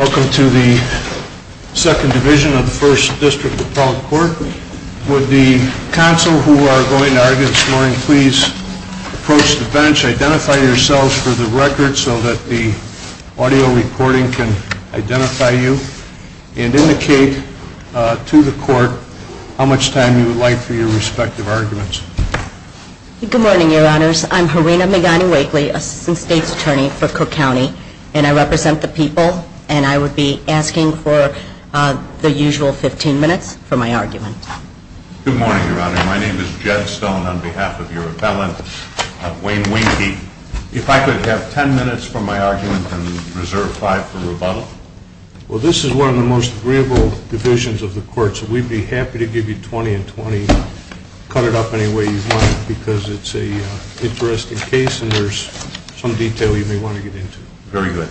Welcome to the 2nd Division of the 1st District Appellate Court. Would the counsel who are going to argue this morning please approach the bench, identify yourselves for the record so that the audio recording can identify you, and indicate to the court how much time you would like for your respective arguments. Harina Megani-Wakely Good morning, Your Honors. I'm Harina Megani-Wakely, Assistant State's Attorney for Cook County, and I represent the people, and I would be asking for the usual 15 minutes for my argument. Jed Stone Good morning, Your Honor. My name is Jed Stone on behalf of your appellant, Wayne Weinke. If I could have 10 minutes for my argument and reserve 5 for rebuttal. Well, this is one of the most agreeable divisions of the court, so we'd be happy to give you 20 and 20, cut it up any way you want, because it's an interesting case and there's some detail you may want to get into. Very good.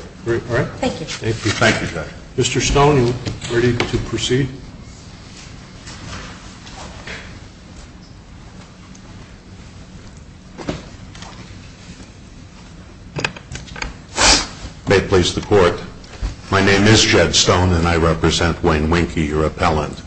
Thank you, Judge. Mr. Stone, are you ready to proceed? Jed Stone May please the court. My name is Jed Stone, and I represent Wayne Weinke, your appellant.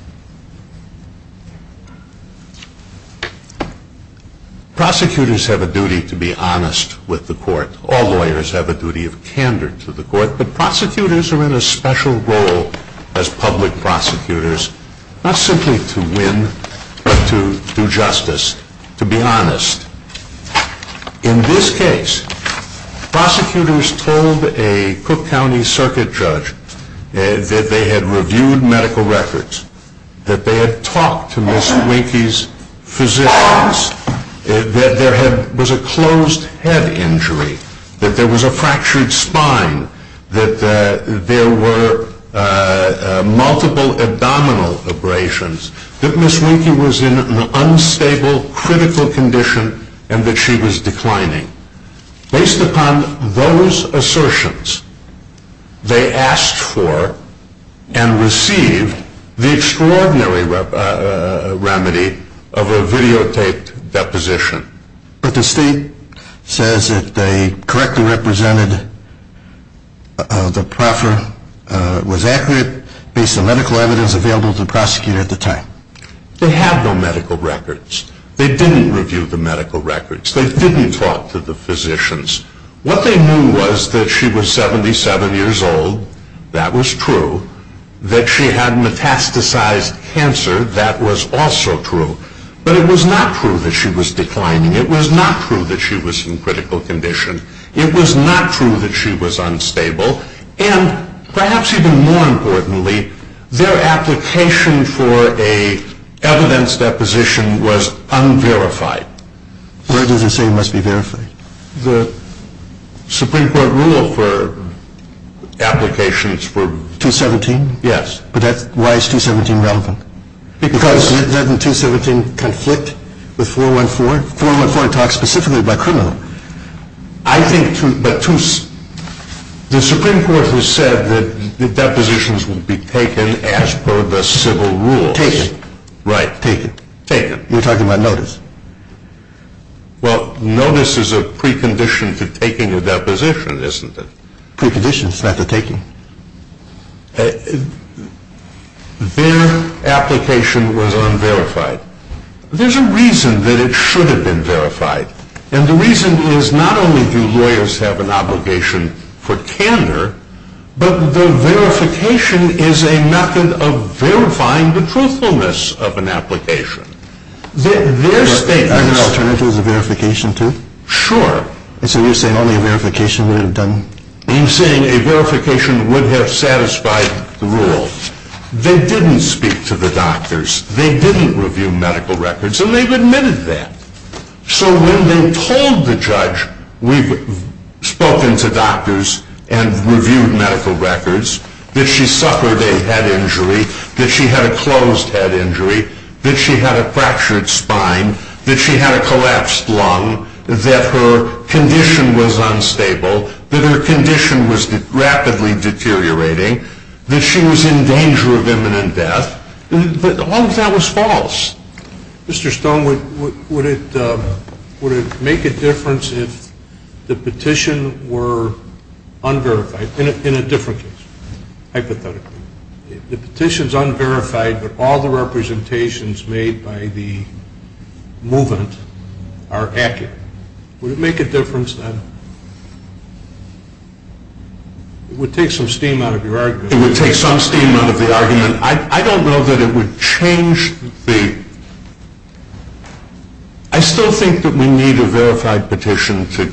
Prosecutors have a duty to be honest with the court. All lawyers have a duty of candor to the court, but prosecutors are in a special role as public prosecutors, not simply to win, but to win. In this case, prosecutors told a Cook County circuit judge that they had reviewed medical records, that they had talked to Ms. Weinke's physicians, that there was a closed head injury, that there was a fractured spine, that there were multiple abdominal abrasions. That Ms. Weinke was in an unstable, critical condition and that she was declining. Based upon those assertions, they asked for and received the extraordinary remedy of a videotaped deposition. But the state says that they correctly represented the proffer, was accurate, based on medical evidence available to the prosecutor at the time. They have no medical records. They didn't review the medical records. They didn't talk to the physicians. What they knew was that she was 77 years old. That was true. That she had metastasized cancer. That was also true. But it was not true that she was declining. It was not true that she was in critical condition. It was not true that she was unstable. And perhaps even more importantly, their application for an evidence deposition was unverified. Where does it say it must be verified? The Supreme Court rule for applications for... 217? Yes. But why is 217 relevant? Because... Doesn't 217 conflict with 414? 414 talks specifically about criminal. I think to... but to... the Supreme Court has said that the depositions will be taken as per the civil rules. Taken. Right. Taken. Taken. We're talking about notice. Well, notice is a precondition to taking a deposition, isn't it? Precondition is not the taking. Their application was unverified. There's a reason that it should have been verified. And the reason is not only do lawyers have an obligation for candor, but the verification is a method of verifying the truthfulness of an application. Their statement... As an alternative as a verification too? Sure. So you're saying only a verification would have done... You're saying a verification would have satisfied the rule. They didn't speak to the doctors. They didn't review medical records, and they've admitted that. So when they told the judge, we've spoken to doctors and reviewed medical records, that she suffered a head injury, that she had a closed head injury, that she had a fractured spine, that she had a collapsed lung, that her condition was unstable, that her condition was rapidly deteriorating, that she was in danger of imminent death, but all of that was false. Mr. Stone, would it make a difference if the petition were unverified, in a different case, hypothetically? If the petition's unverified, but all the representations made by the movement are accurate, would it make a difference then? It would take some steam out of your argument. It would take some steam out of the argument. I don't know that it would change the... I still think that we need a verified petition to...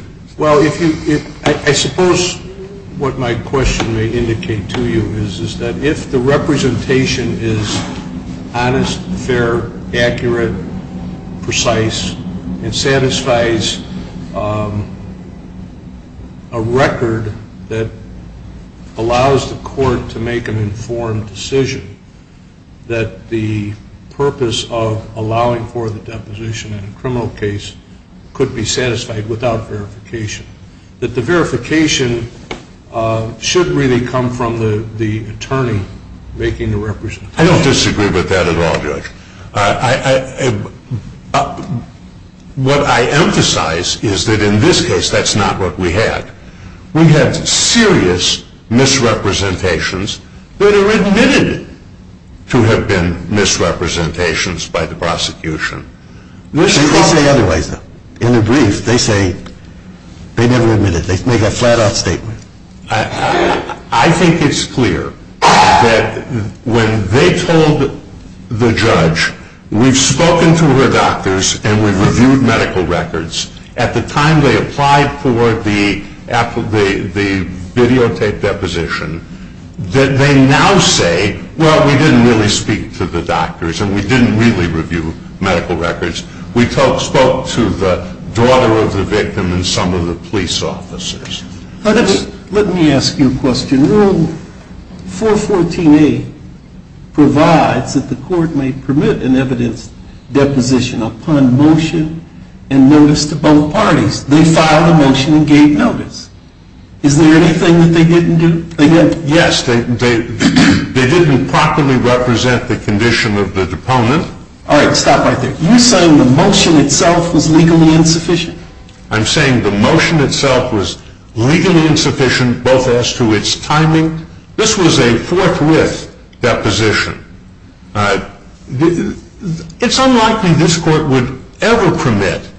to make an informed decision that the purpose of allowing for the deposition in a criminal case could be satisfied without verification. That the verification should really come from the attorney making the representation. I don't disagree with that at all, Judge. What I emphasize is that in this case, that's not what we had. We had serious misrepresentations that are admitted to have been misrepresentations by the prosecution. They say otherwise, though. In the brief, they say they never admitted it. They make a flat-out statement. I think it's clear that when they told the judge, we've spoken to her doctors and we've reviewed medical records, at the time they applied for the videotape deposition, that they now say, well, we didn't really speak to the doctors and we didn't really review medical records. We spoke to the daughter of the victim and some of the police officers. Let me ask you a question. Rule 414A provides that the court may permit an evidence deposition upon motion and notice to both parties. They filed a motion and gave notice. Is there anything that they didn't do? Yes, they didn't properly represent the condition of the deponent. All right, stop right there. You're saying the motion itself was legally insufficient? I'm saying the motion itself was legally insufficient both as to its timing. This was a forthwith deposition. It's unlikely this court would ever permit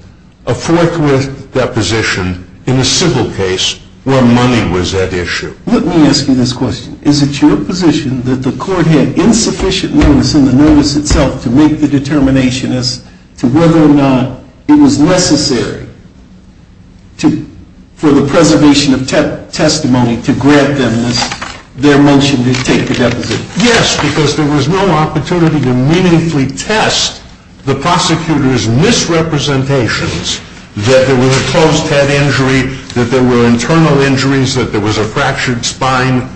a forthwith deposition in a civil case where money was at issue. Let me ask you this question. Is it your position that the court had insufficient notice and the notice itself to make the determination as to whether or not it was necessary for the preservation of testimony to grant them their motion to take the deposition? Yes, because there was no opportunity to meaningfully test the prosecutor's misrepresentations that there was a closed head injury, that there were internal injuries, that there was a fractured spine.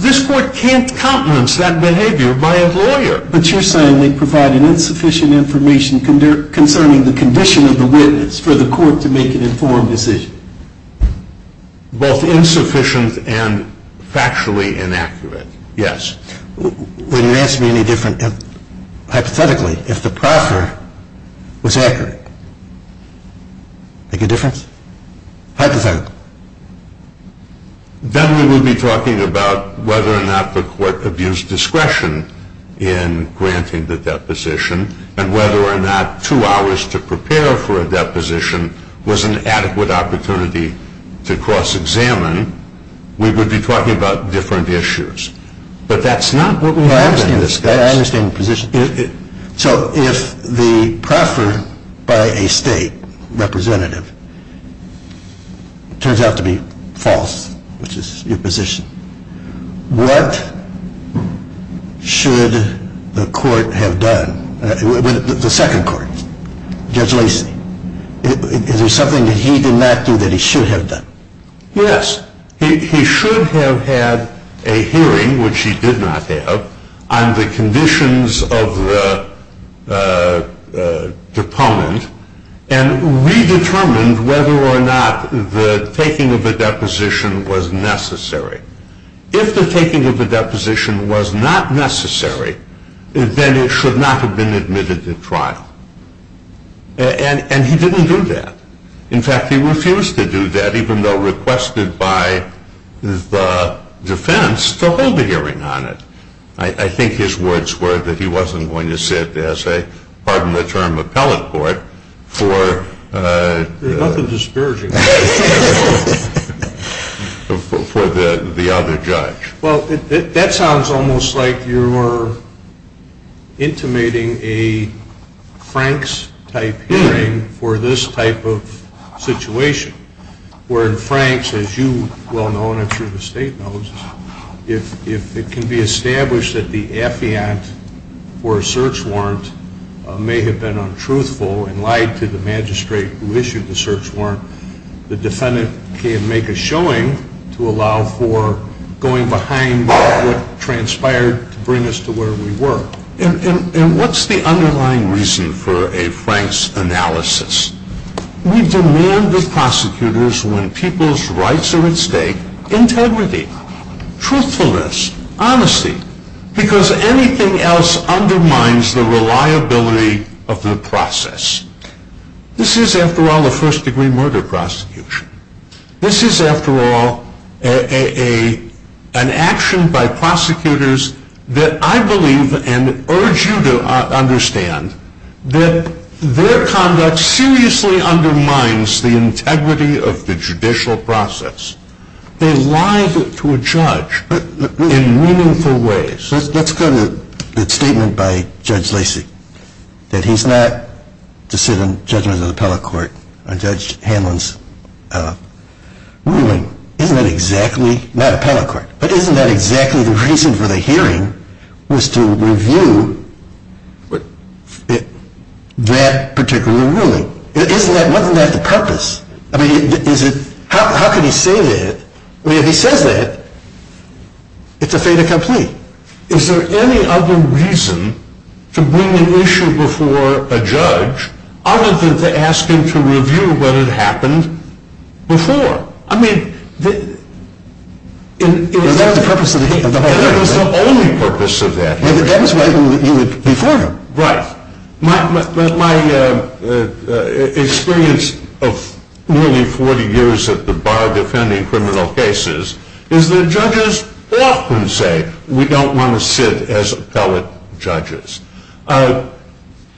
This court can't countenance that behavior by a lawyer. But you're saying they provided insufficient information concerning the condition of the witness for the court to make an informed decision? Both insufficient and factually inaccurate, yes. Would you answer me any different hypothetically if the proffer was accurate? Make a difference? Hypothetically? Then we would be talking about whether or not the court abused discretion in granting the deposition and whether or not two hours to prepare for a deposition was an adequate opportunity to cross-examine. We would be talking about different issues. But that's not what we have in this case. I understand the position. So if the proffer by a state representative turns out to be false, which is your position, what should the court have done, the second court, Judge Lacey? Is there something that he did not do that he should have done? Yes. He should have had a hearing, which he did not have, on the conditions of the deponent and redetermined whether or not the taking of the deposition was necessary. If the taking of the deposition was not necessary, then it should not have been admitted to trial. And he didn't do that. In fact, he refused to do that, even though requested by the defense to hold a hearing on it. I think his words were that he wasn't going to sit as a, pardon the term, appellate court for the other judge. Well, that sounds almost like you're intimating a Franks-type hearing for this type of situation. Where in Franks, as you well know and I'm sure the state knows, if it can be established that the affiant for a search warrant may have been untruthful and lied to the magistrate who issued the search warrant, the defendant can make a showing to allow for going behind what transpired to bring us to where we were. And what's the underlying reason for a Franks analysis? We demand with prosecutors, when people's rights are at stake, integrity, truthfulness, honesty, because anything else undermines the reliability of the process. This is, after all, a first-degree murder prosecution. This is, after all, an action by prosecutors that I believe and urge you to understand that their conduct seriously undermines the integrity of the judicial process. They lied to a judge in meaningful ways. Let's go to the statement by Judge Lacy that he's not to sit on judgment of the appellate court on Judge Hanlon's ruling. Isn't that exactly, not appellate court, but isn't that exactly the reason for the hearing was to review that particular ruling? Wasn't that the purpose? I mean, how could he say that? I mean, if he says that, it's a fait accompli. Is there any other reason to bring an issue before a judge other than to ask him to review what had happened before? I mean, it was the only purpose of that hearing. That was right before him. Right. My experience of nearly 40 years at the bar defending criminal cases is that judges often say we don't want to sit as appellate judges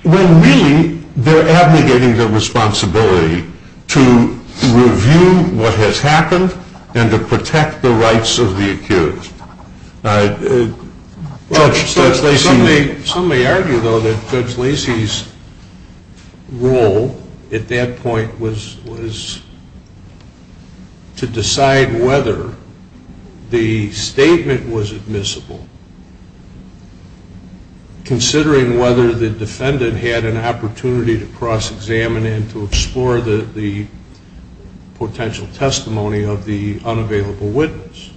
when really they're abnegating their responsibility to review what has happened and to protect the rights of the accused. Some may argue, though, that Judge Lacy's role at that point was to decide whether the statement was admissible considering whether the defendant had an opportunity to cross-examine and to explore the potential testimony of the unavailable witness,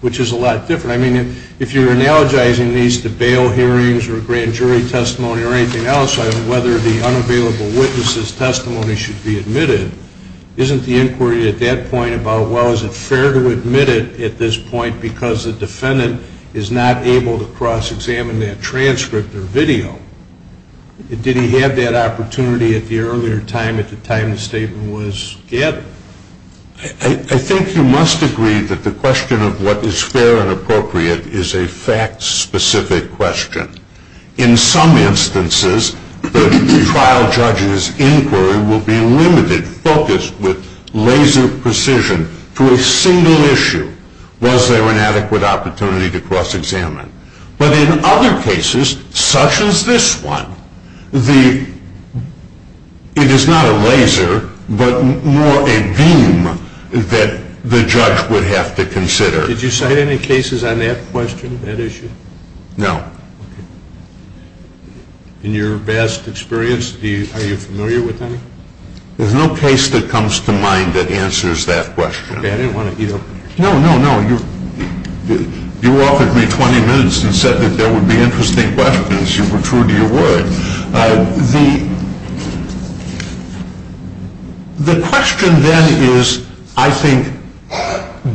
which is a lot different. I mean, if you're analogizing these to bail hearings or grand jury testimony or anything else, whether the unavailable witness's testimony should be admitted, isn't the inquiry at that point about, well, is it fair to admit it at this point because the defendant is not able to cross-examine that transcript or video? Did he have that opportunity at the earlier time, at the time the statement was gathered? I think you must agree that the question of what is fair and appropriate is a fact-specific question. In some instances, the trial judge's inquiry will be limited, focused with laser precision to a single issue, was there an adequate opportunity to cross-examine. But in other cases, such as this one, it is not a laser but more a beam that the judge would have to consider. Did you cite any cases on that question, that issue? No. Okay. In your vast experience, are you familiar with any? There's no case that comes to mind that answers that question. Okay, I didn't want to, you know. No, no, no. You offered me 20 minutes and said that there would be interesting questions. You were true to your word. The question then is, I think,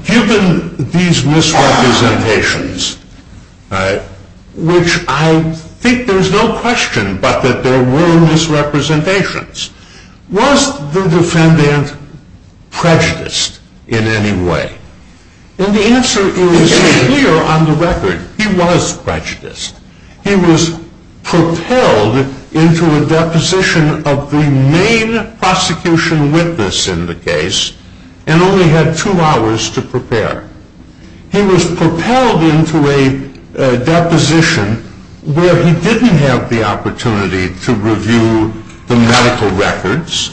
given these misrepresentations, which I think there's no question but that there were misrepresentations, was the defendant prejudiced in any way? And the answer is clear on the record. He was prejudiced. He was propelled into a deposition of the main prosecution witness in the case and only had two hours to prepare. He was propelled into a deposition where he didn't have the opportunity to review the medical records.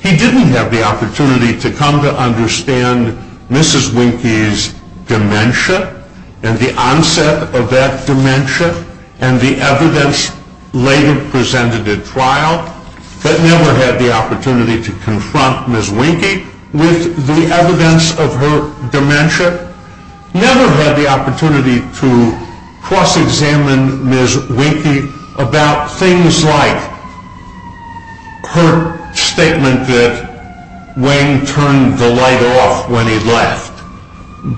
He didn't have the opportunity to come to understand Mrs. Winkie's dementia and the onset of that dementia and the evidence later presented at trial, but never had the opportunity to confront Mrs. Winkie with the evidence of her dementia, never had the opportunity to cross-examine Mrs. Winkie about things like her statement that Wang turned the light off when he left,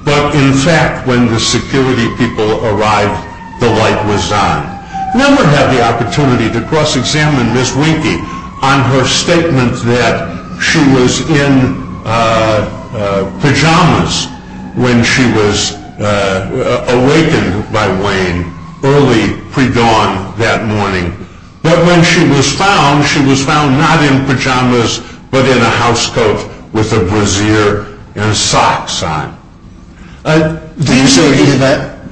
but in fact when the security people arrived, the light was on. Never had the opportunity to cross-examine Mrs. Winkie on her statement that she was in pajamas when she was awakened by Wang early pre-dawn that morning, but when she was found, she was found not in pajamas but in a house coat with a brassiere and socks on.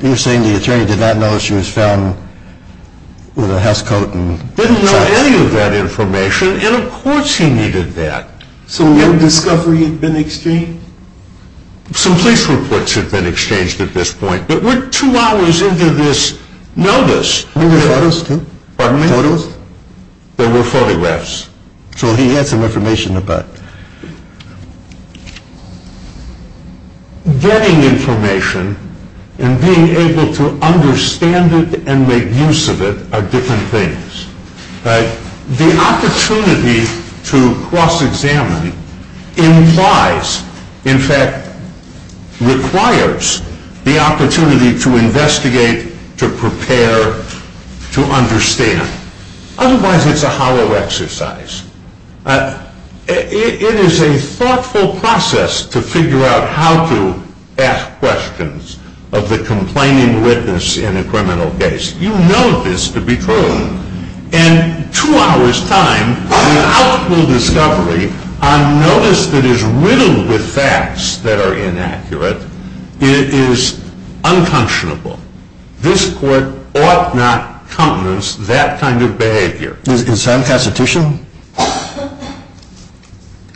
You're saying the attorney did not know she was found with a house coat and socks on? Didn't know any of that information and of course he needed that. So no discovery had been exchanged? Some police reports had been exchanged at this point, but we're two hours into this notice. Photos? Pardon me? Photos? There were photographs. So he had some information about it. Getting information and being able to understand it and make use of it are different things. The opportunity to cross-examine implies, in fact requires, the opportunity to investigate, to prepare, to understand. Otherwise it's a hollow exercise. It is a thoughtful process to figure out how to ask questions of the complaining witness in a criminal case. You know this to be true. And two hours' time without full discovery on notice that is riddled with facts that are inaccurate is unconscionable. This court ought not countenance that kind of behavior. Is that unconstitutional?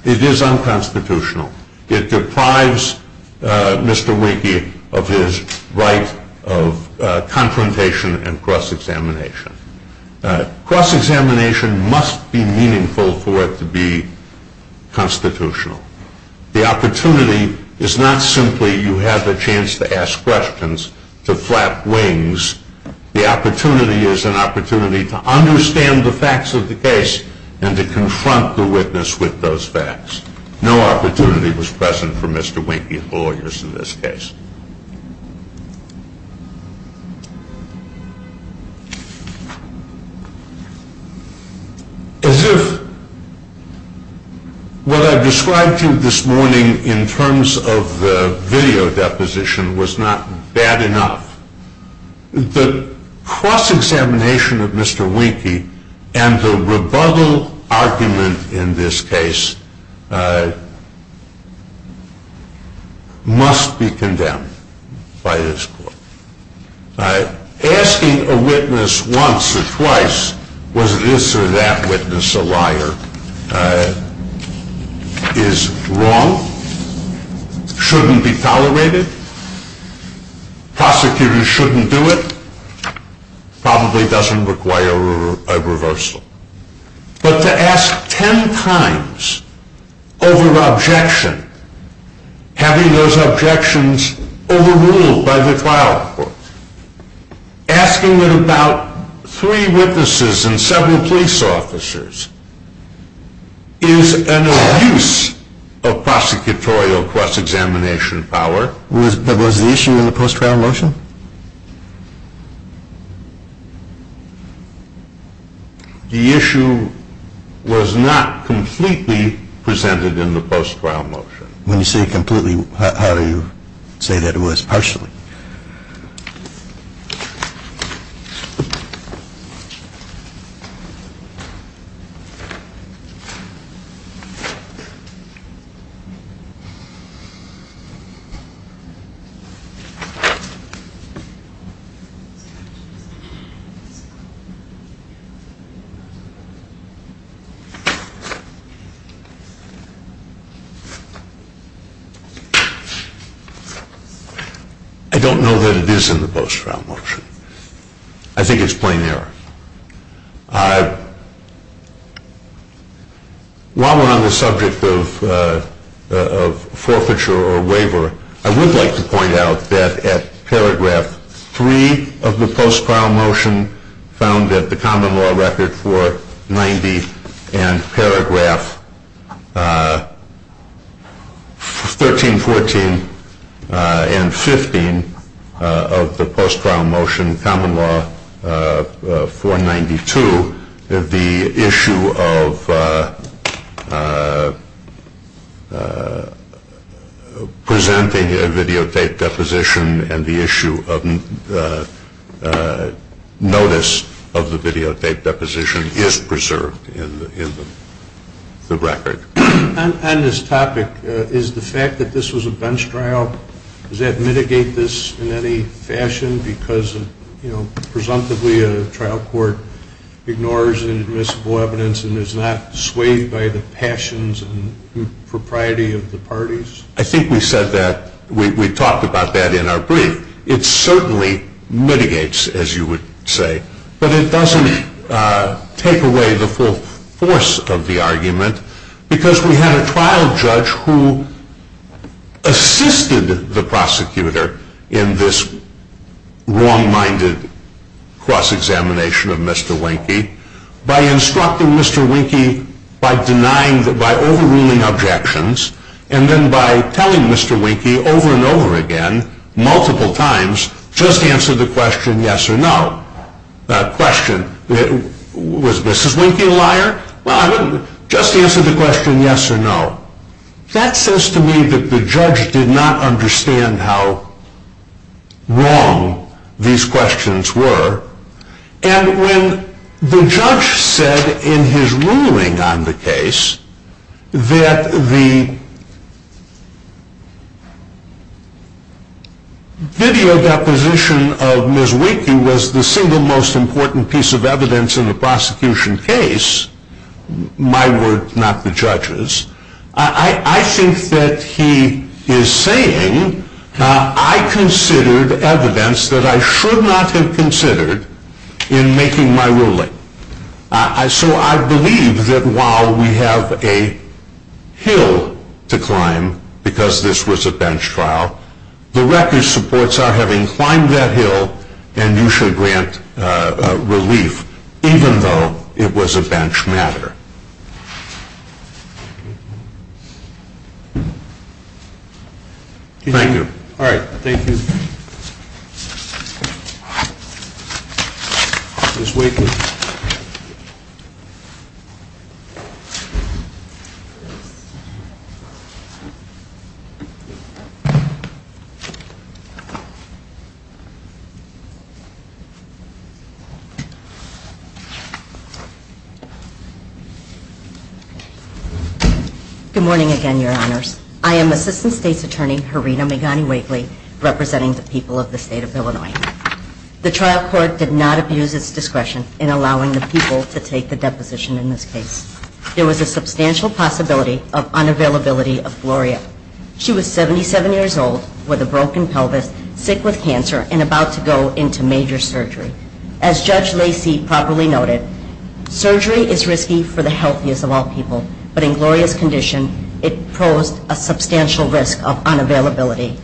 It is unconstitutional. It deprives Mr. Wienke of his right of confrontation and cross-examination. Cross-examination must be meaningful for it to be constitutional. The opportunity is not simply you have the chance to ask questions, to flap wings. The opportunity is an opportunity to understand the facts of the case and to confront the witness with those facts. No opportunity was present for Mr. Wienke's lawyers in this case. As if what I described to you this morning in terms of the video deposition was not bad enough, the cross-examination of Mr. Wienke and the rebuttal argument in this case must be condemned by this court. Asking a witness once or twice was this or that witness a liar is wrong, shouldn't be tolerated. Prosecutors shouldn't do it, probably doesn't require a reversal. But to ask ten times over objection, having those objections overruled by the trial court. Asking about three witnesses and several police officers is an abuse of prosecutorial cross-examination power. Was the issue in the post-trial motion? The issue was not completely presented in the post-trial motion. When you say completely, how do you say that it was partially? I don't know that it is in the post-trial motion. I think it's plain error. While we're on the subject of forfeiture or waiver, I would like to point out that at paragraph 3 of the post-trial motion found at the common law record 490 and paragraph 13, 14, and 15 of the post-trial motion common law 492, the issue of presenting a videotaped deposition and the issue of notice of the videotaped deposition is preserved in the record. On this topic, is the fact that this was a bench trial, does that mitigate this in any fashion? Presumably a trial court ignores inadmissible evidence and is not swayed by the passions and propriety of the parties. I think we said that, we talked about that in our brief. It certainly mitigates, as you would say, but it doesn't take away the full force of the argument because we had a trial judge who assisted the prosecutor in this wrong-minded cross-examination of Mr. Wynke by instructing Mr. Wynke by denying, by overruling objections, and then by telling Mr. Wynke over and over again, multiple times, just answer the question yes or no. Was Mrs. Wynke a liar? Just answer the question yes or no. That says to me that the judge did not understand how wrong these questions were and when the judge said in his ruling on the case that the video deposition of Mrs. Wynke was the single most important piece of evidence in a prosecution case, my word, not the judge's, I think that he is saying I considered evidence that I should not have considered in making my ruling. So I believe that while we have a hill to climb because this was a bench trial, the record supports our having climbed that hill and you shall grant relief even though it was a bench matter. Thank you. All right. Ms. Wynke. Good morning again, Your Honors. I am Assistant State's Attorney Harina Megani-Wakely representing the people of the State of Illinois. The trial court did not abuse its discretion in allowing the people to take the deposition in this case. There was a substantial possibility of unavailability of Gloria. She was 77 years old with a broken pelvis, sick with cancer, and about to go into major surgery. As Judge Lacy properly noted, surgery is risky for the healthiest of all people, but in Gloria's condition it posed a substantial risk of unavailability.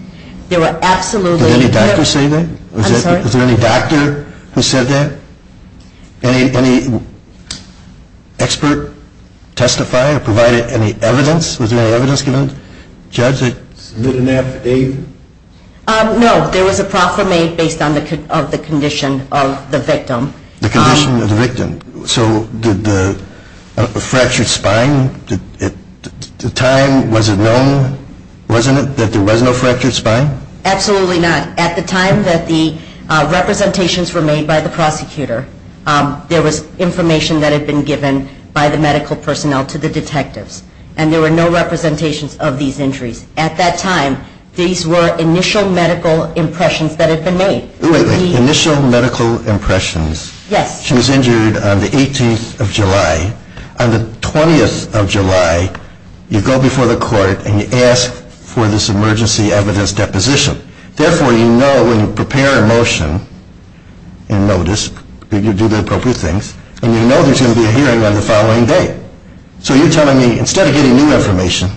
There were absolutely... Did any doctor say that? I'm sorry? Was there any doctor who said that? Any expert testify or provide any evidence? Was there any evidence given? Submit an affidavit? No, there was a proclamation based on the condition of the victim. The condition of the victim. So did the fractured spine at the time, was it known, wasn't it, that there was no fractured spine? Absolutely not. At the time that the representations were made by the prosecutor, there was information that had been given by the medical personnel to the detectives, and there were no representations of these injuries. At that time, these were initial medical impressions that had been made. Wait, wait. Initial medical impressions? Yes. She was injured on the 18th of July. On the 20th of July, you go before the court and you ask for this emergency evidence deposition. Therefore, you know when you prepare a motion and notice, you do the appropriate things, and you know there's going to be a hearing on the following day. So you're telling me instead of getting new information,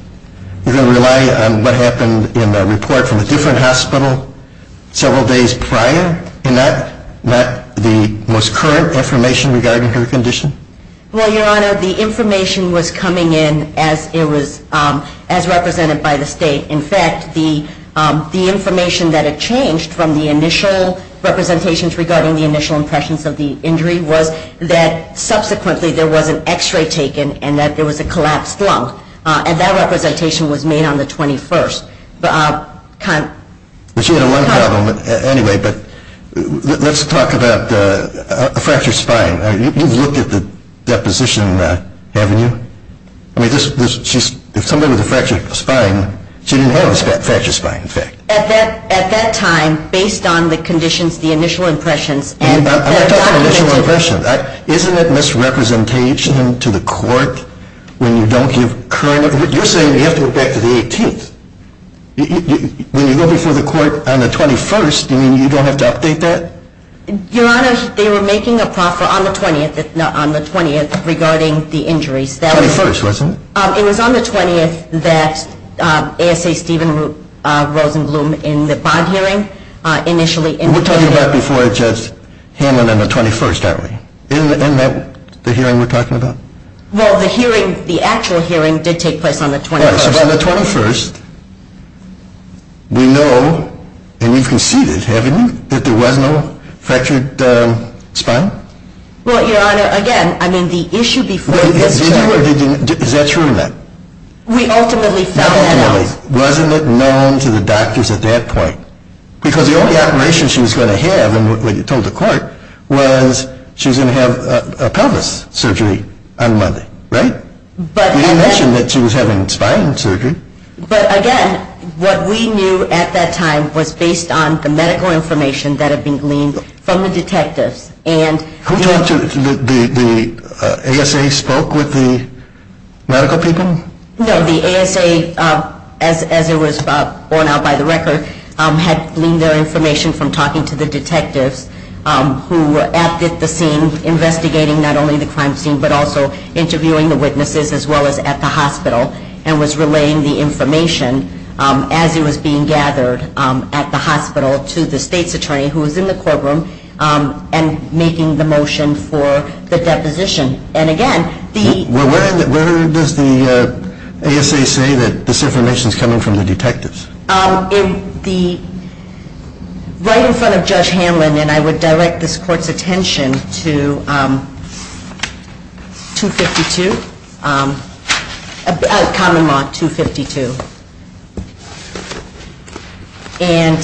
you're going to rely on what happened in a report from a different hospital several days prior, and not the most current information regarding her condition? Well, Your Honor, the information was coming in as it was represented by the state. In fact, the information that had changed from the initial representations regarding the initial impressions of the injury was that subsequently there was an X-ray taken and that there was a collapsed lung, and that representation was made on the 21st. But she had a lung problem. Anyway, let's talk about a fractured spine. You've looked at the deposition, haven't you? I mean, if somebody with a fractured spine, she didn't have a fractured spine, in fact. At that time, based on the conditions, the initial impressions, Isn't it misrepresentation to the court when you don't give current information? You're saying you have to go back to the 18th. When you go before the court on the 21st, you mean you don't have to update that? Your Honor, they were making a proffer on the 20th regarding the injuries. 21st, wasn't it? It was on the 20th that ASA Stephen Rosenblum in the bond hearing initially indicated that there was no fractured spine. Well, the hearing, the actual hearing did take place on the 21st. All right, so on the 21st, we know, and you've conceded, haven't you, that there was no fractured spine? Well, Your Honor, again, I mean the issue before this was Did you or did you not? Is that true or not? We ultimately found out Ultimately, wasn't it known to the doctors at that point? Because the only operation she was going to have, like you told the court, was she was going to have a pelvis surgery on Monday, right? You didn't mention that she was having spine surgery. But again, what we knew at that time was based on the medical information that had been gleaned from the detectives. Who talked to, the ASA spoke with the medical people? No, the ASA, as it was borne out by the record, had gleaned their information from talking to the detectives who were at the scene investigating not only the crime scene but also interviewing the witnesses as well as at the hospital and was relaying the information as it was being gathered at the hospital to the state's attorney who was in the courtroom and making the motion for the deposition. Where does the ASA say that this information is coming from the detectives? Right in front of Judge Hanlon and I would direct this court's attention to 252, Common Law 252. And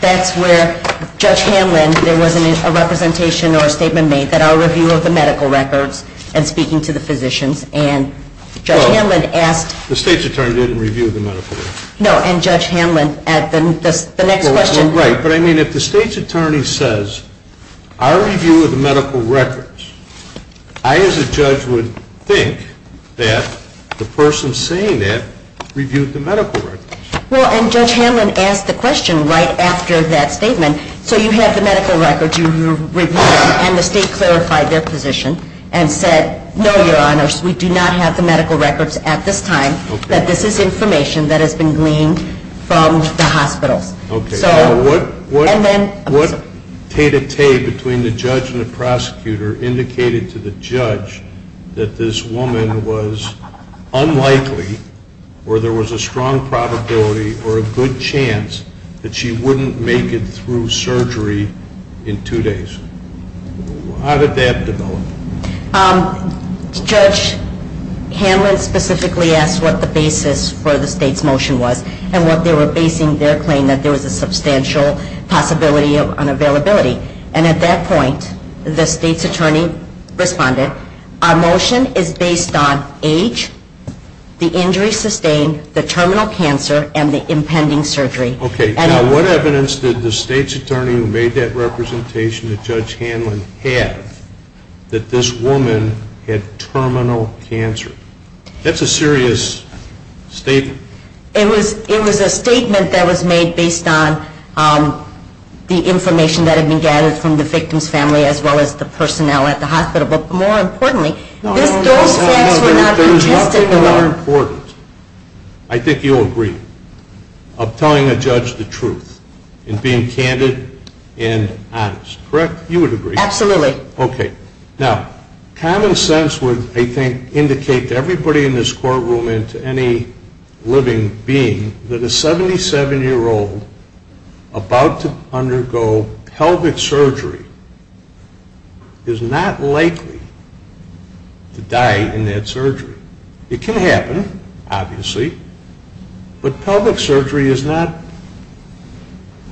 that's where Judge Hanlon, there was a representation or a statement made that our review of the medical records and speaking to the physicians and Judge Hanlon asked... The state's attorney didn't review the medical records. No, and Judge Hanlon at the next question... Right, but I mean if the state's attorney says, our review of the medical records, I as a judge would think that the person saying that reviewed the medical records. Well, and Judge Hanlon asked the question right after that statement, so you have the medical records, you reviewed them, and the state clarified their position and said, no, your honors, we do not have the medical records at this time, that this is information that has been gleaned from the hospitals. Okay. And then... What tete-a-tete between the judge and the prosecutor indicated to the judge that this woman was unlikely or there was a strong probability or a good chance that she wouldn't make it through surgery in two days. How did that develop? Judge Hanlon specifically asked what the basis for the state's motion was and what they were basing their claim, that there was a substantial possibility of unavailability. And at that point, the state's attorney responded, our motion is based on age, the injuries sustained, the terminal cancer, and the impending surgery. Okay. Now, what evidence did the state's attorney who made that representation to Judge Hanlon have that this woman had terminal cancer? That's a serious statement. It was a statement that was made based on the information that had been gathered from the victim's family as well as the personnel at the hospital. But more importantly, those facts were not contested. I think you'll agree of telling a judge the truth and being candid and honest. Correct? You would agree. Absolutely. Okay. Now, common sense would, I think, indicate to everybody in this courtroom and to any living being that a 77-year-old about to undergo pelvic surgery is not likely to die in that surgery. It can happen, obviously, but pelvic surgery is not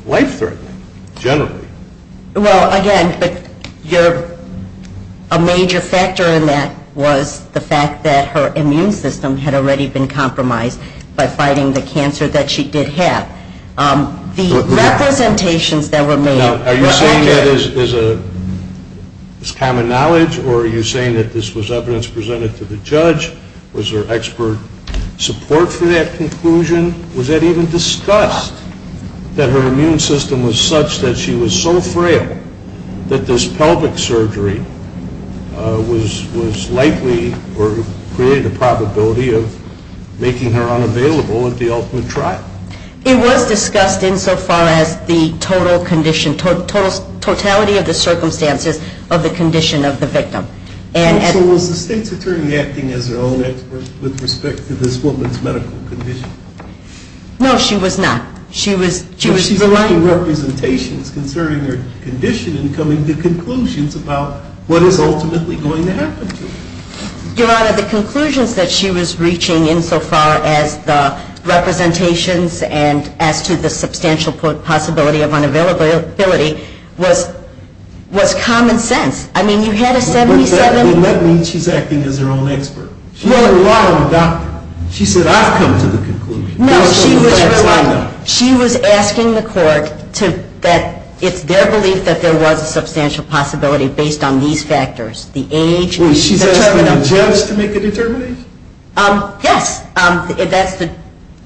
life-threatening, generally. Well, again, a major factor in that was the fact that her immune system had already been compromised by fighting the cancer that she did have. The representations that were made were accurate. Now, are you saying that is common knowledge or are you saying that this was evidence presented to the judge? Was there expert support for that conclusion? Was it even discussed that her immune system was such that she was so frail that this pelvic surgery was likely or created a probability of making her unavailable at the ultimate trial? It was discussed insofar as the total condition, totality of the circumstances of the condition of the victim. So was the state's attorney acting as her own expert with respect to this woman's medical condition? No, she was not. She was providing representations concerning her condition and coming to conclusions about what is ultimately going to happen to her. Your Honor, the conclusions that she was reaching insofar as the representations and as to the substantial possibility of unavailability was common sense. I mean, you had a 77- Well, that means she's acting as her own expert. She had a lot on the doctor. She said, I've come to the conclusion. No, she was asking the court that it's their belief that there was a substantial possibility based on these factors, the age, the terminal- Well, she's asking the judge to make a determination? Yes.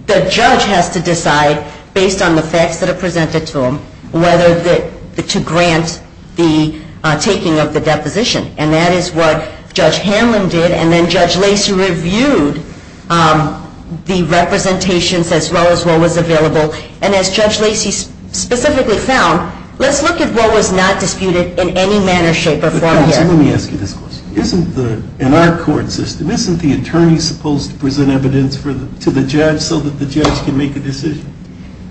The judge has to decide based on the facts that are presented to him whether to grant the taking of the deposition. And that is what Judge Hanlon did, and then Judge Lacey reviewed the representations as well as what was available. And as Judge Lacey specifically found, let's look at what was not disputed in any manner, shape, or form here. Let me ask you this question. In our court system, isn't the attorney supposed to present evidence to the judge so that the judge can make a decision?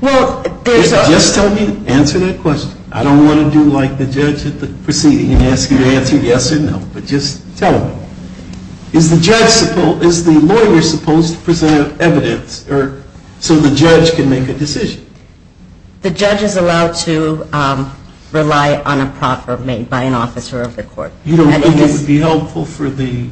Well, there's- Just tell me, answer that question. I don't want to do like the judge at the proceeding and ask you to answer yes or no, but just tell me. Is the lawyer supposed to present evidence so the judge can make a decision? The judge is allowed to rely on a proffer made by an officer of the court. You don't think it would be helpful for the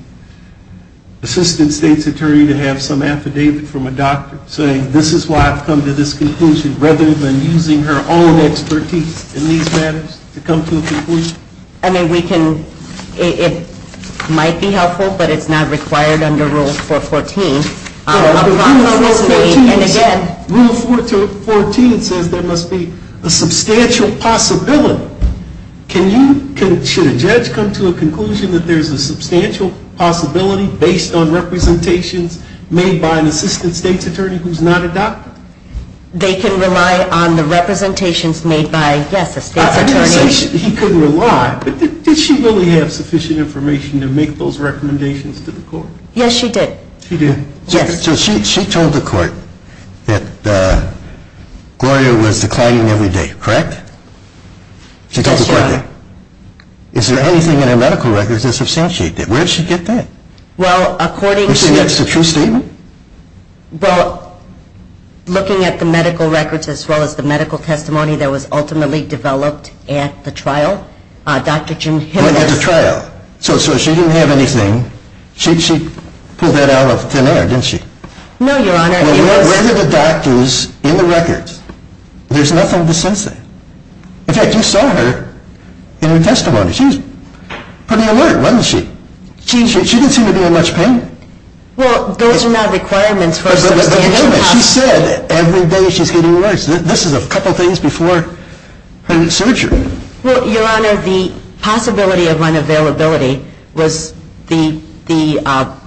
assistant state's attorney to have some affidavit from a doctor saying, this is why I've come to this conclusion, rather than using her own expertise in these matters to come to a conclusion? I mean, it might be helpful, but it's not required under Rule 414. Rule 414 says there must be a substantial possibility. Should a judge come to a conclusion that there's a substantial possibility based on representations made by an assistant state's attorney who's not a doctor? They can rely on the representations made by, yes, a state's attorney. I didn't say he could rely, but did she really have sufficient information to make those recommendations to the court? Yes, she did. She did. So she told the court that Gloria was declining every day, correct? Yes, Your Honor. She told the court that. Is there anything in her medical records that substantiates that? Where did she get that? Well, according to the- You're saying that's the true statement? Well, looking at the medical records as well as the medical testimony that was ultimately developed at the trial, Dr. Jim Hill- When at the trial. So she didn't have anything. She pulled that out of thin air, didn't she? No, Your Honor. Where are the doctors in the records? There's nothing to substantiate. In fact, you saw her in her testimony. She was pretty alert, wasn't she? She didn't seem to be in much pain. Well, those are not requirements for a substantial possibility. She said every day she's getting alerts. This is a couple things before her surgery. Well, Your Honor, the possibility of unavailability was the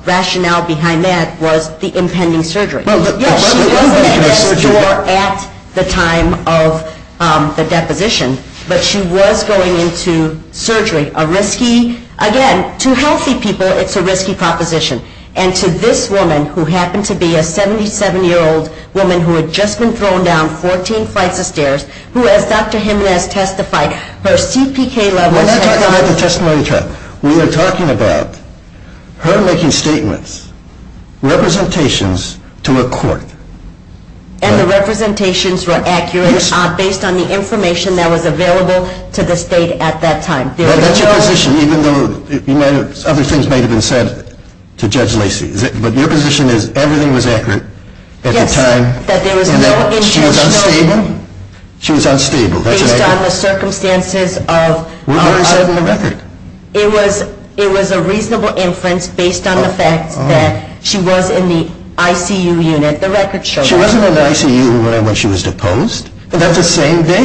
rationale behind that was the impending surgery. She wasn't in a store at the time of the deposition, but she was going into surgery. Again, to healthy people, it's a risky proposition. And to this woman, who happened to be a 77-year-old woman who had just been thrown down 14 flights of stairs, who, as Dr. Jim has testified, her CPK level- We're not talking about the testimony trial. We are talking about her making statements, representations to a court. And the representations were accurate based on the information that was available to the state at that time. That's your position, even though other things may have been said to Judge Lacey. But your position is everything was accurate at the time. Yes, that there was no intentional- She was unstable. Based on the circumstances of- It was a reasonable inference based on the fact that she was in the ICU unit. She wasn't in the ICU unit when she was deposed. And that's the same day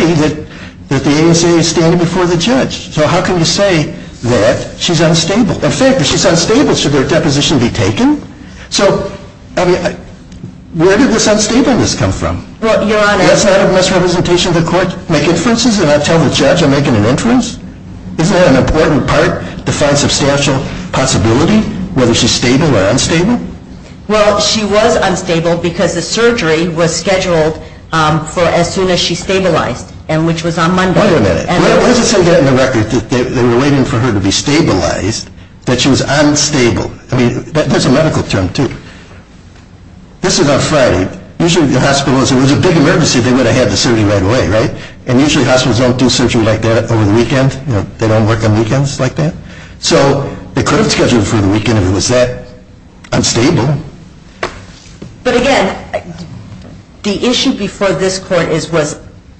that the ASA is standing before the judge. So how can you say that she's unstable? In fact, if she's unstable, should her deposition be taken? So where did this unstableness come from? That's not a misrepresentation of the court. Make inferences and not tell the judge I'm making an inference? Isn't that an important part to find substantial possibility, whether she's stable or unstable? Well, she was unstable because the surgery was scheduled for as soon as she stabilized, which was on Monday. Wait a minute. What does it say there in the record that they were waiting for her to be stabilized, that she was unstable? I mean, there's a medical term, too. This is on Friday. Usually, if the hospital was in a big emergency, they would have had the surgery right away, right? And usually, hospitals don't do surgery like that over the weekend. They don't work on weekends like that. So they could have scheduled it for the weekend if it was that unstable. But again, the issue before this court was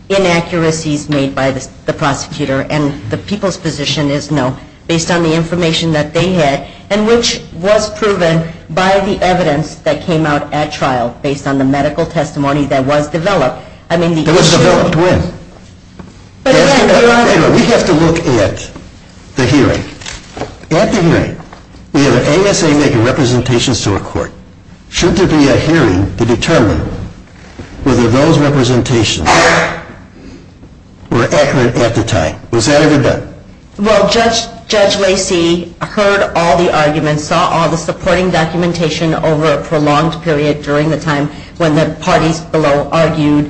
inaccuracies made by the prosecutor, and the people's position is no, based on the information that they had, and which was proven by the evidence that came out at trial based on the medical testimony that was developed. It was developed when? We have to look at the hearing. At the hearing, we have an ASA making representations to a court. Shouldn't there be a hearing to determine whether those representations were accurate at the time? Was that ever done? Well, Judge Lacy heard all the arguments, saw all the supporting documentation over a prolonged period during the time when the parties below argued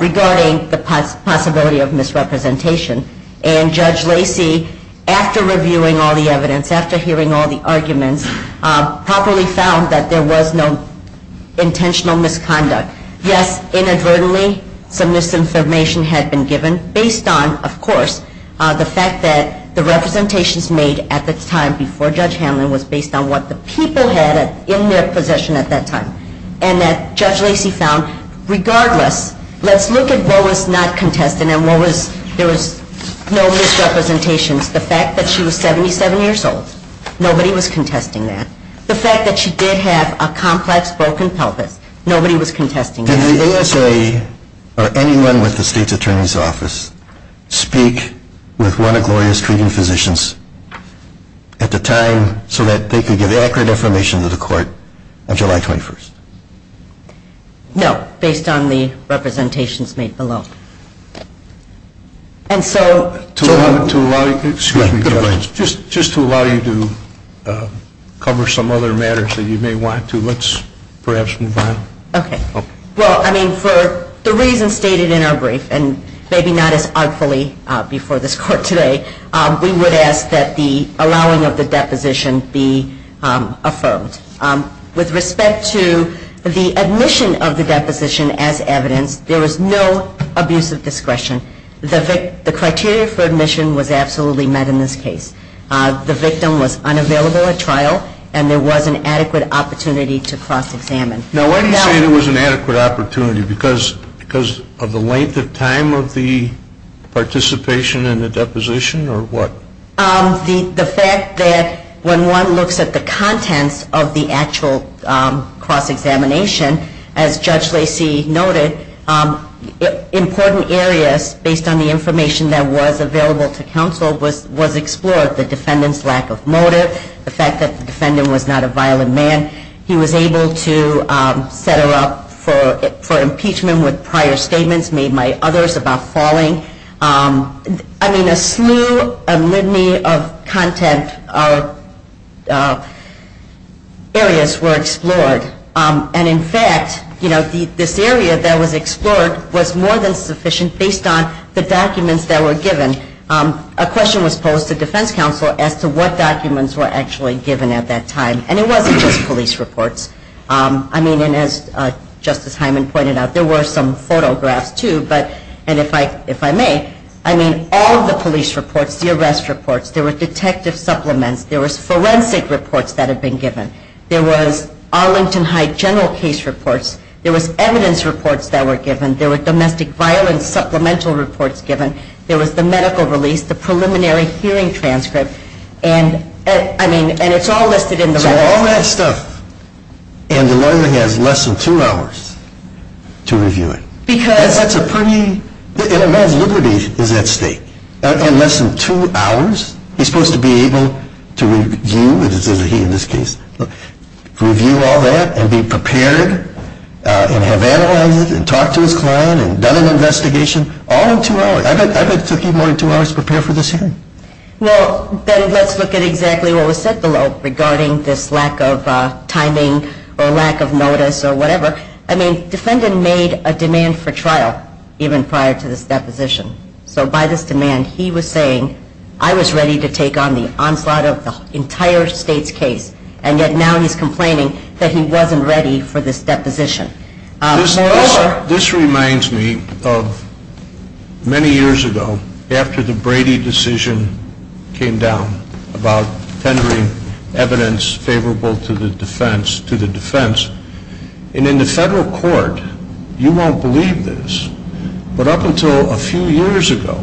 regarding the possibility of misrepresentation. And Judge Lacy, after reviewing all the evidence, after hearing all the arguments, properly found that there was no intentional misconduct. Yes, inadvertently, some misinformation had been given based on, of course, the fact that the representations made at the time before Judge Hamlin was based on what the people had in their possession at that time. And that Judge Lacy found, regardless, let's look at what was not contested and what was, there was no misrepresentations. The fact that she was 77 years old, nobody was contesting that. The fact that she did have a complex broken pelvis, nobody was contesting that. Did the ASA, or anyone with the state's attorney's office, speak with one of Gloria's treating physicians at the time so that they could give accurate information to the court on July 21st? No, based on the representations made below. And so to allow you to cover some other matters that you may want to, let's perhaps move on. Okay. Well, I mean, for the reasons stated in our brief, and maybe not as artfully before this court today, we would ask that the allowing of the deposition be affirmed. With respect to the admission of the deposition as evidence, there was no abuse of discretion. The criteria for admission was absolutely met in this case. The victim was unavailable at trial, and there was an adequate opportunity to cross-examine. Now, why do you say there was an adequate opportunity? Because of the length of time of the participation in the deposition, or what? The fact that when one looks at the contents of the actual cross-examination, as Judge Lacy noted, important areas, based on the information that was available to counsel, was explored, the defendant's lack of motive, the fact that the defendant was not a violent man. He was able to set her up for impeachment with prior statements made by others about falling. I mean, a slew, a litany of content areas were explored. And, in fact, this area that was explored was more than sufficient, based on the documents that were given. And, as I mentioned, a question was posed to defense counsel as to what documents were actually given at that time. And it wasn't just police reports. I mean, and as Justice Hyman pointed out, there were some photographs, too. And if I may, I mean all of the police reports, the arrest reports, there were detective supplements, there was forensic reports that had been given, there was Arlington Heights general case reports, there was evidence reports that were given, there were domestic violence supplemental reports given, there was the medical release, the preliminary hearing transcript, and, I mean, and it's all listed in the record. So all that stuff, and the lawyer has less than two hours to review it. Because... That's a pretty... And a man's liberty is at stake. In less than two hours, he's supposed to be able to review, and this is he in this case, review all that and be prepared and have analyzed it and talked to his client and done an investigation, all in two hours. I bet it took him more than two hours to prepare for this hearing. Well, then let's look at exactly what was said below regarding this lack of timing or lack of notice or whatever. I mean, defendant made a demand for trial even prior to this deposition. So by this demand, he was saying, I was ready to take on the onslaught of the entire state's case, and yet now he's complaining that he wasn't ready for this deposition. This reminds me of many years ago, after the Brady decision came down about tendering evidence favorable to the defense, and in the federal court, you won't believe this, but up until a few years ago,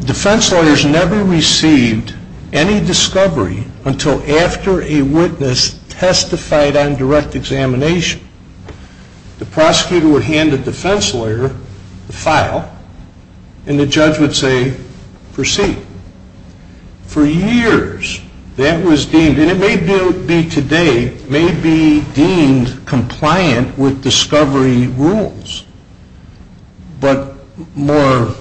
defense lawyers never received any discovery until after a witness testified on direct examination. The prosecutor would hand the defense lawyer the file, and the judge would say, proceed. For years, that was deemed, and it may be today, may be deemed compliant with discovery rules, but more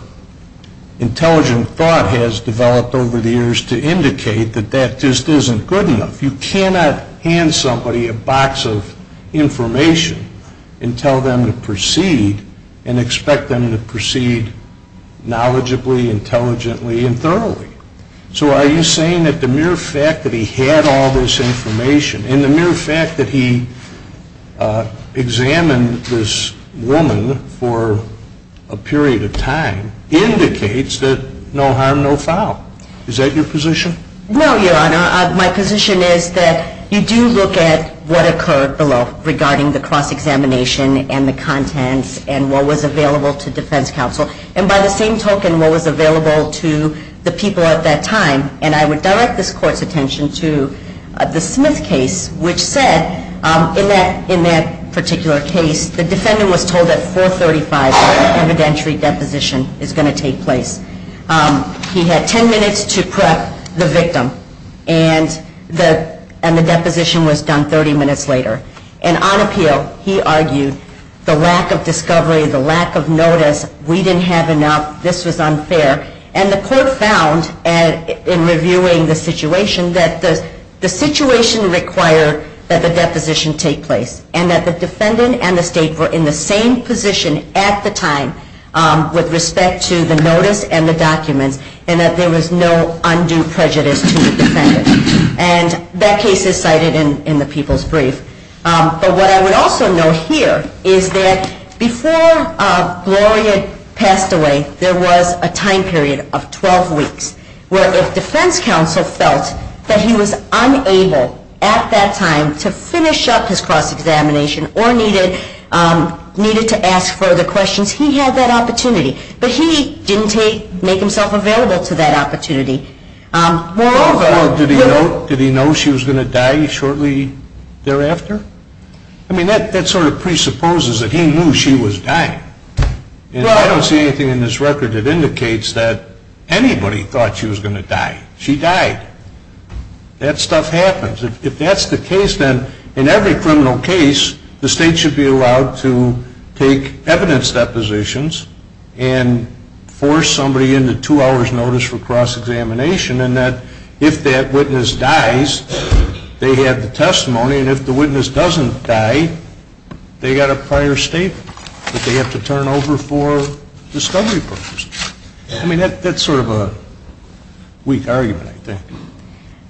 intelligent thought has developed over the years to indicate that that just isn't good enough. You cannot hand somebody a box of information and tell them to proceed and expect them to proceed knowledgeably, intelligently, and thoroughly. So are you saying that the mere fact that he had all this information and the mere fact that he examined this woman for a period of time indicates that no harm, no foul? Is that your position? No, Your Honor. My position is that you do look at what occurred below regarding the cross-examination and the contents and what was available to defense counsel, and by the same token, what was available to the people at that time, and I would direct this Court's attention to the Smith case, which said in that particular case, the defendant was told that 435 evidentiary deposition is going to take place. He had 10 minutes to prep the victim, and the deposition was done 30 minutes later. And on appeal, he argued the lack of discovery, the lack of notice, we didn't have enough, this was unfair, and the Court found in reviewing the situation that the situation required that the deposition take place and that the defendant and the State were in the same position at the time with respect to the notice and the documents and that there was no undue prejudice to the defendant. And that case is cited in the People's Brief. But what I would also note here is that before Gloria passed away, there was a time period of 12 weeks, where if defense counsel felt that he was unable at that time to finish up his cross-examination or needed to ask further questions, he had that opportunity. But he didn't make himself available to that opportunity. Moreover, did he know she was going to die shortly thereafter? I mean, that sort of presupposes that he knew she was dying. And I don't see anything in this record that indicates that anybody thought she was going to die. She died. That stuff happens. If that's the case, then in every criminal case, the State should be allowed to take evidence depositions and force somebody into two hours' notice for cross-examination and that if that witness dies, they have the testimony, and if the witness doesn't die, they've got a prior statement that they have to turn over for discovery purposes. I mean, that's sort of a weak argument, I think.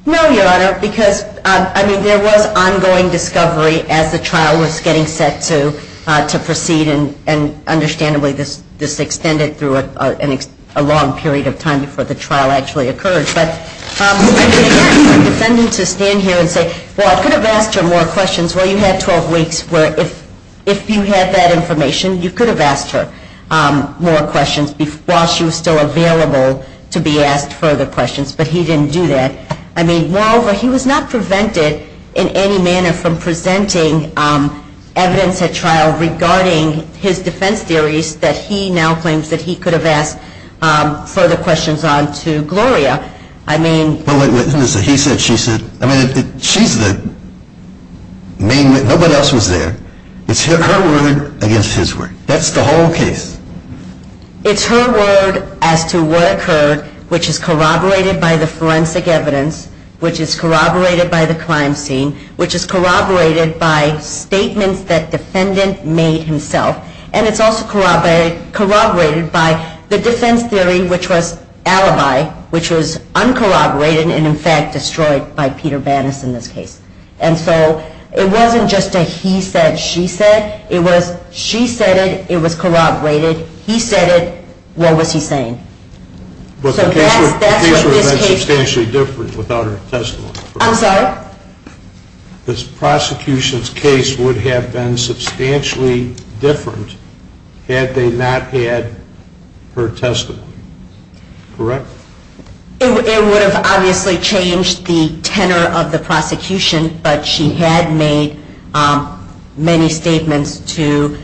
No, Your Honor, because, I mean, there was ongoing discovery as the trial was getting set to proceed, and understandably this extended through a long period of time before the trial actually occurred. But I mean, again, for a defendant to stand here and say, well, I could have asked her more questions. Well, you had 12 weeks where if you had that information, you could have asked her more questions while she was still available to be asked further questions, but he didn't do that. I mean, moreover, he was not prevented in any manner from presenting evidence at trial regarding his defense theories that he now claims that he could have asked further questions on to Gloria. Well, he said, she said. I mean, she's the main witness. Nobody else was there. It's her word against his word. That's the whole case. It's her word as to what occurred, which is corroborated by the forensic evidence, which is corroborated by the crime scene, which is corroborated by statements that defendant made himself, and it's also corroborated by the defense theory, which was alibi, which was uncorroborated and in fact destroyed by Peter Bannis in this case. And so it wasn't just a he said, she said. It was she said it. It was corroborated. He said it. What was he saying? But the case would have been substantially different without her testimony. I'm sorry? This prosecution's case would have been substantially different had they not had her testimony. Correct? It would have obviously changed the tenor of the prosecution, but she had made many statements to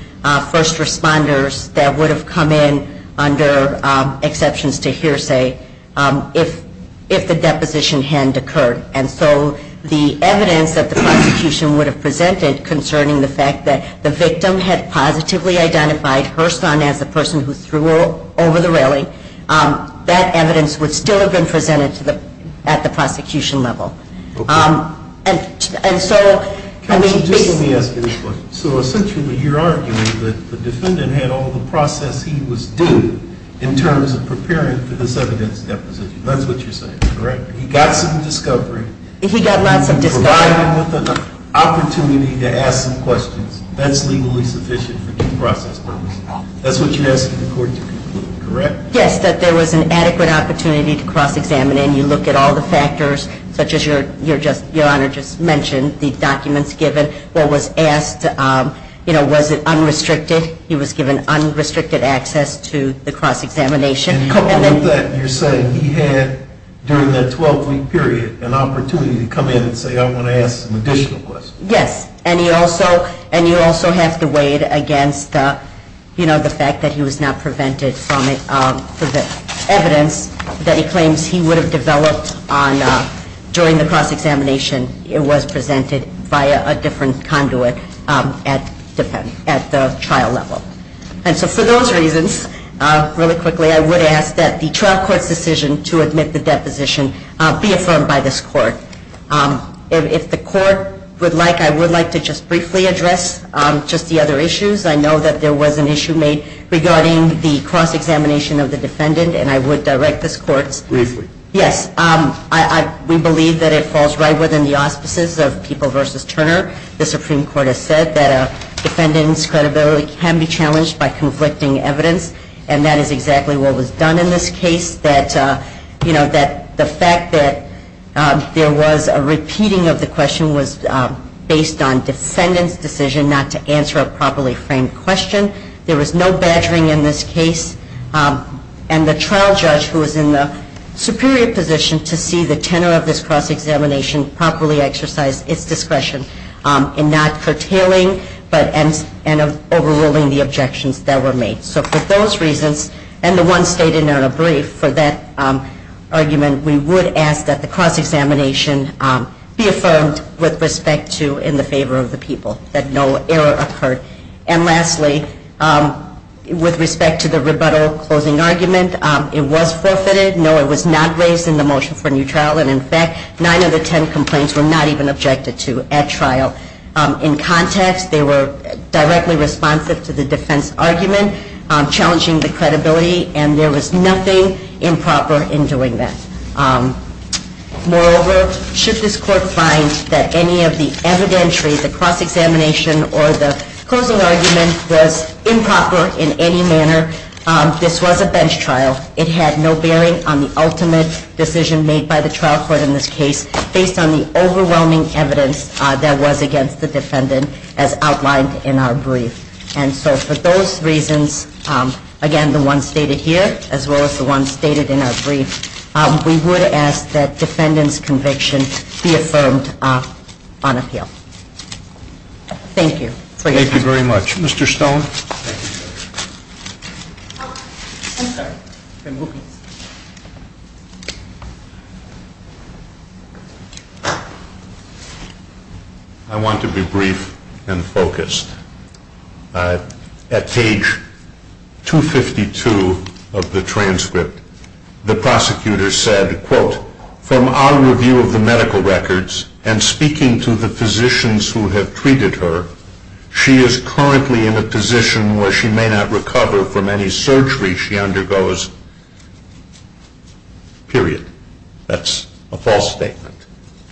first responders that would have come in under exceptions to hearsay if the deposition hadn't occurred. And so the evidence that the prosecution would have presented concerning the fact that the victim had positively identified her son as the person who threw her over the railing, that evidence would still have been presented at the prosecution level. Okay. And so, I mean, Counsel, just let me ask you this question. So essentially you're arguing that the defendant had all the process he was due in terms of preparing for this evidence deposition. That's what you're saying, correct? He got some discovery. He got lots of discovery. Provided with an opportunity to ask some questions, that's legally sufficient for due process purposes. That's what you're asking the court to conclude, correct? Yes, that there was an adequate opportunity to cross-examine, and you look at all the factors such as your Honor just mentioned, the documents given, what was asked, you know, was it unrestricted? He was given unrestricted access to the cross-examination. And all of that, you're saying he had, during that 12-week period, an opportunity to come in and say, I want to ask some additional questions. Yes. And you also have to weigh it against, you know, the fact that he was not prevented from it for the evidence that he claims he would have developed during the cross-examination. It was presented via a different conduit at the trial level. And so for those reasons, really quickly, I would ask that the trial court's decision to admit the deposition be confirmed by this court. If the court would like, I would like to just briefly address just the other issues. I know that there was an issue made regarding the cross-examination of the defendant, and I would direct this court's. Briefly. Yes. We believe that it falls right within the auspices of People v. Turner. The Supreme Court has said that a defendant's credibility can be challenged by conflicting evidence, and that is exactly what was done in this case. We believe that, you know, that the fact that there was a repeating of the question was based on defendant's decision not to answer a properly framed question. There was no badgering in this case, and the trial judge, who was in the superior position to see the tenor of this cross-examination properly exercise its discretion in not curtailing and overruling the objections that were made. So for those reasons, and the one stated in our brief for that argument, we would ask that the cross-examination be affirmed with respect to in the favor of the people, that no error occurred. And lastly, with respect to the rebuttal closing argument, it was forfeited. No, it was not raised in the motion for new trial, and in fact, nine of the ten complaints were not even objected to at trial. In context, they were directly responsive to the defense argument, challenging the credibility, and there was nothing improper in doing that. Moreover, should this court find that any of the evidentiary, the cross-examination, or the closing argument was improper in any manner, this was a bench trial. It had no bearing on the ultimate decision made by the trial court in this case, based on the overwhelming evidence that was against the defendant, as outlined in our brief. And so for those reasons, again, the one stated here, as well as the one stated in our brief, we would ask that defendant's conviction be affirmed on appeal. Thank you. Thank you very much. Mr. Stone. I want to be brief and focused. At page 252 of the transcript, the prosecutor said, quote, from our review of the medical records and speaking to the physicians who have recovered from any surgery she undergoes, period. That's a false statement.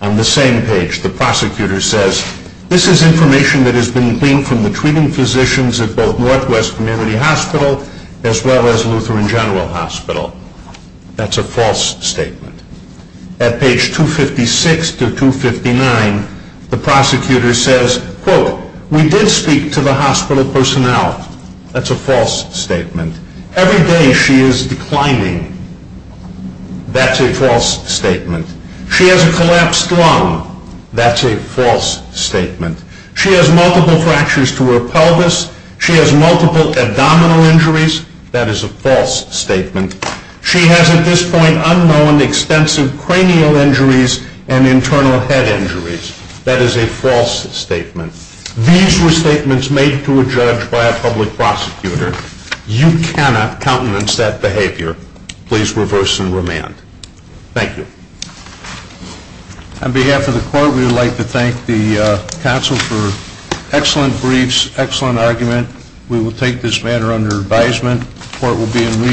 On the same page, the prosecutor says, this is information that has been gleaned from the treating physicians at both Northwest Community Hospital, as well as Lutheran General Hospital. That's a false statement. At page 256 to 259, the prosecutor says, quote, we did speak to the hospital personnel. That's a false statement. Every day she is declining. That's a false statement. She has a collapsed lung. That's a false statement. She has multiple fractures to her pelvis. She has multiple abdominal injuries. That is a false statement. She has at this point unknown extensive cranial injuries and internal head injuries. That is a false statement. These were statements made to a judge by a public prosecutor. You cannot countenance that behavior. Please reverse and remand. Thank you. On behalf of the court, we would like to thank the counsel for excellent briefs, excellent argument. We will take this matter under advisement. The court will be in recess.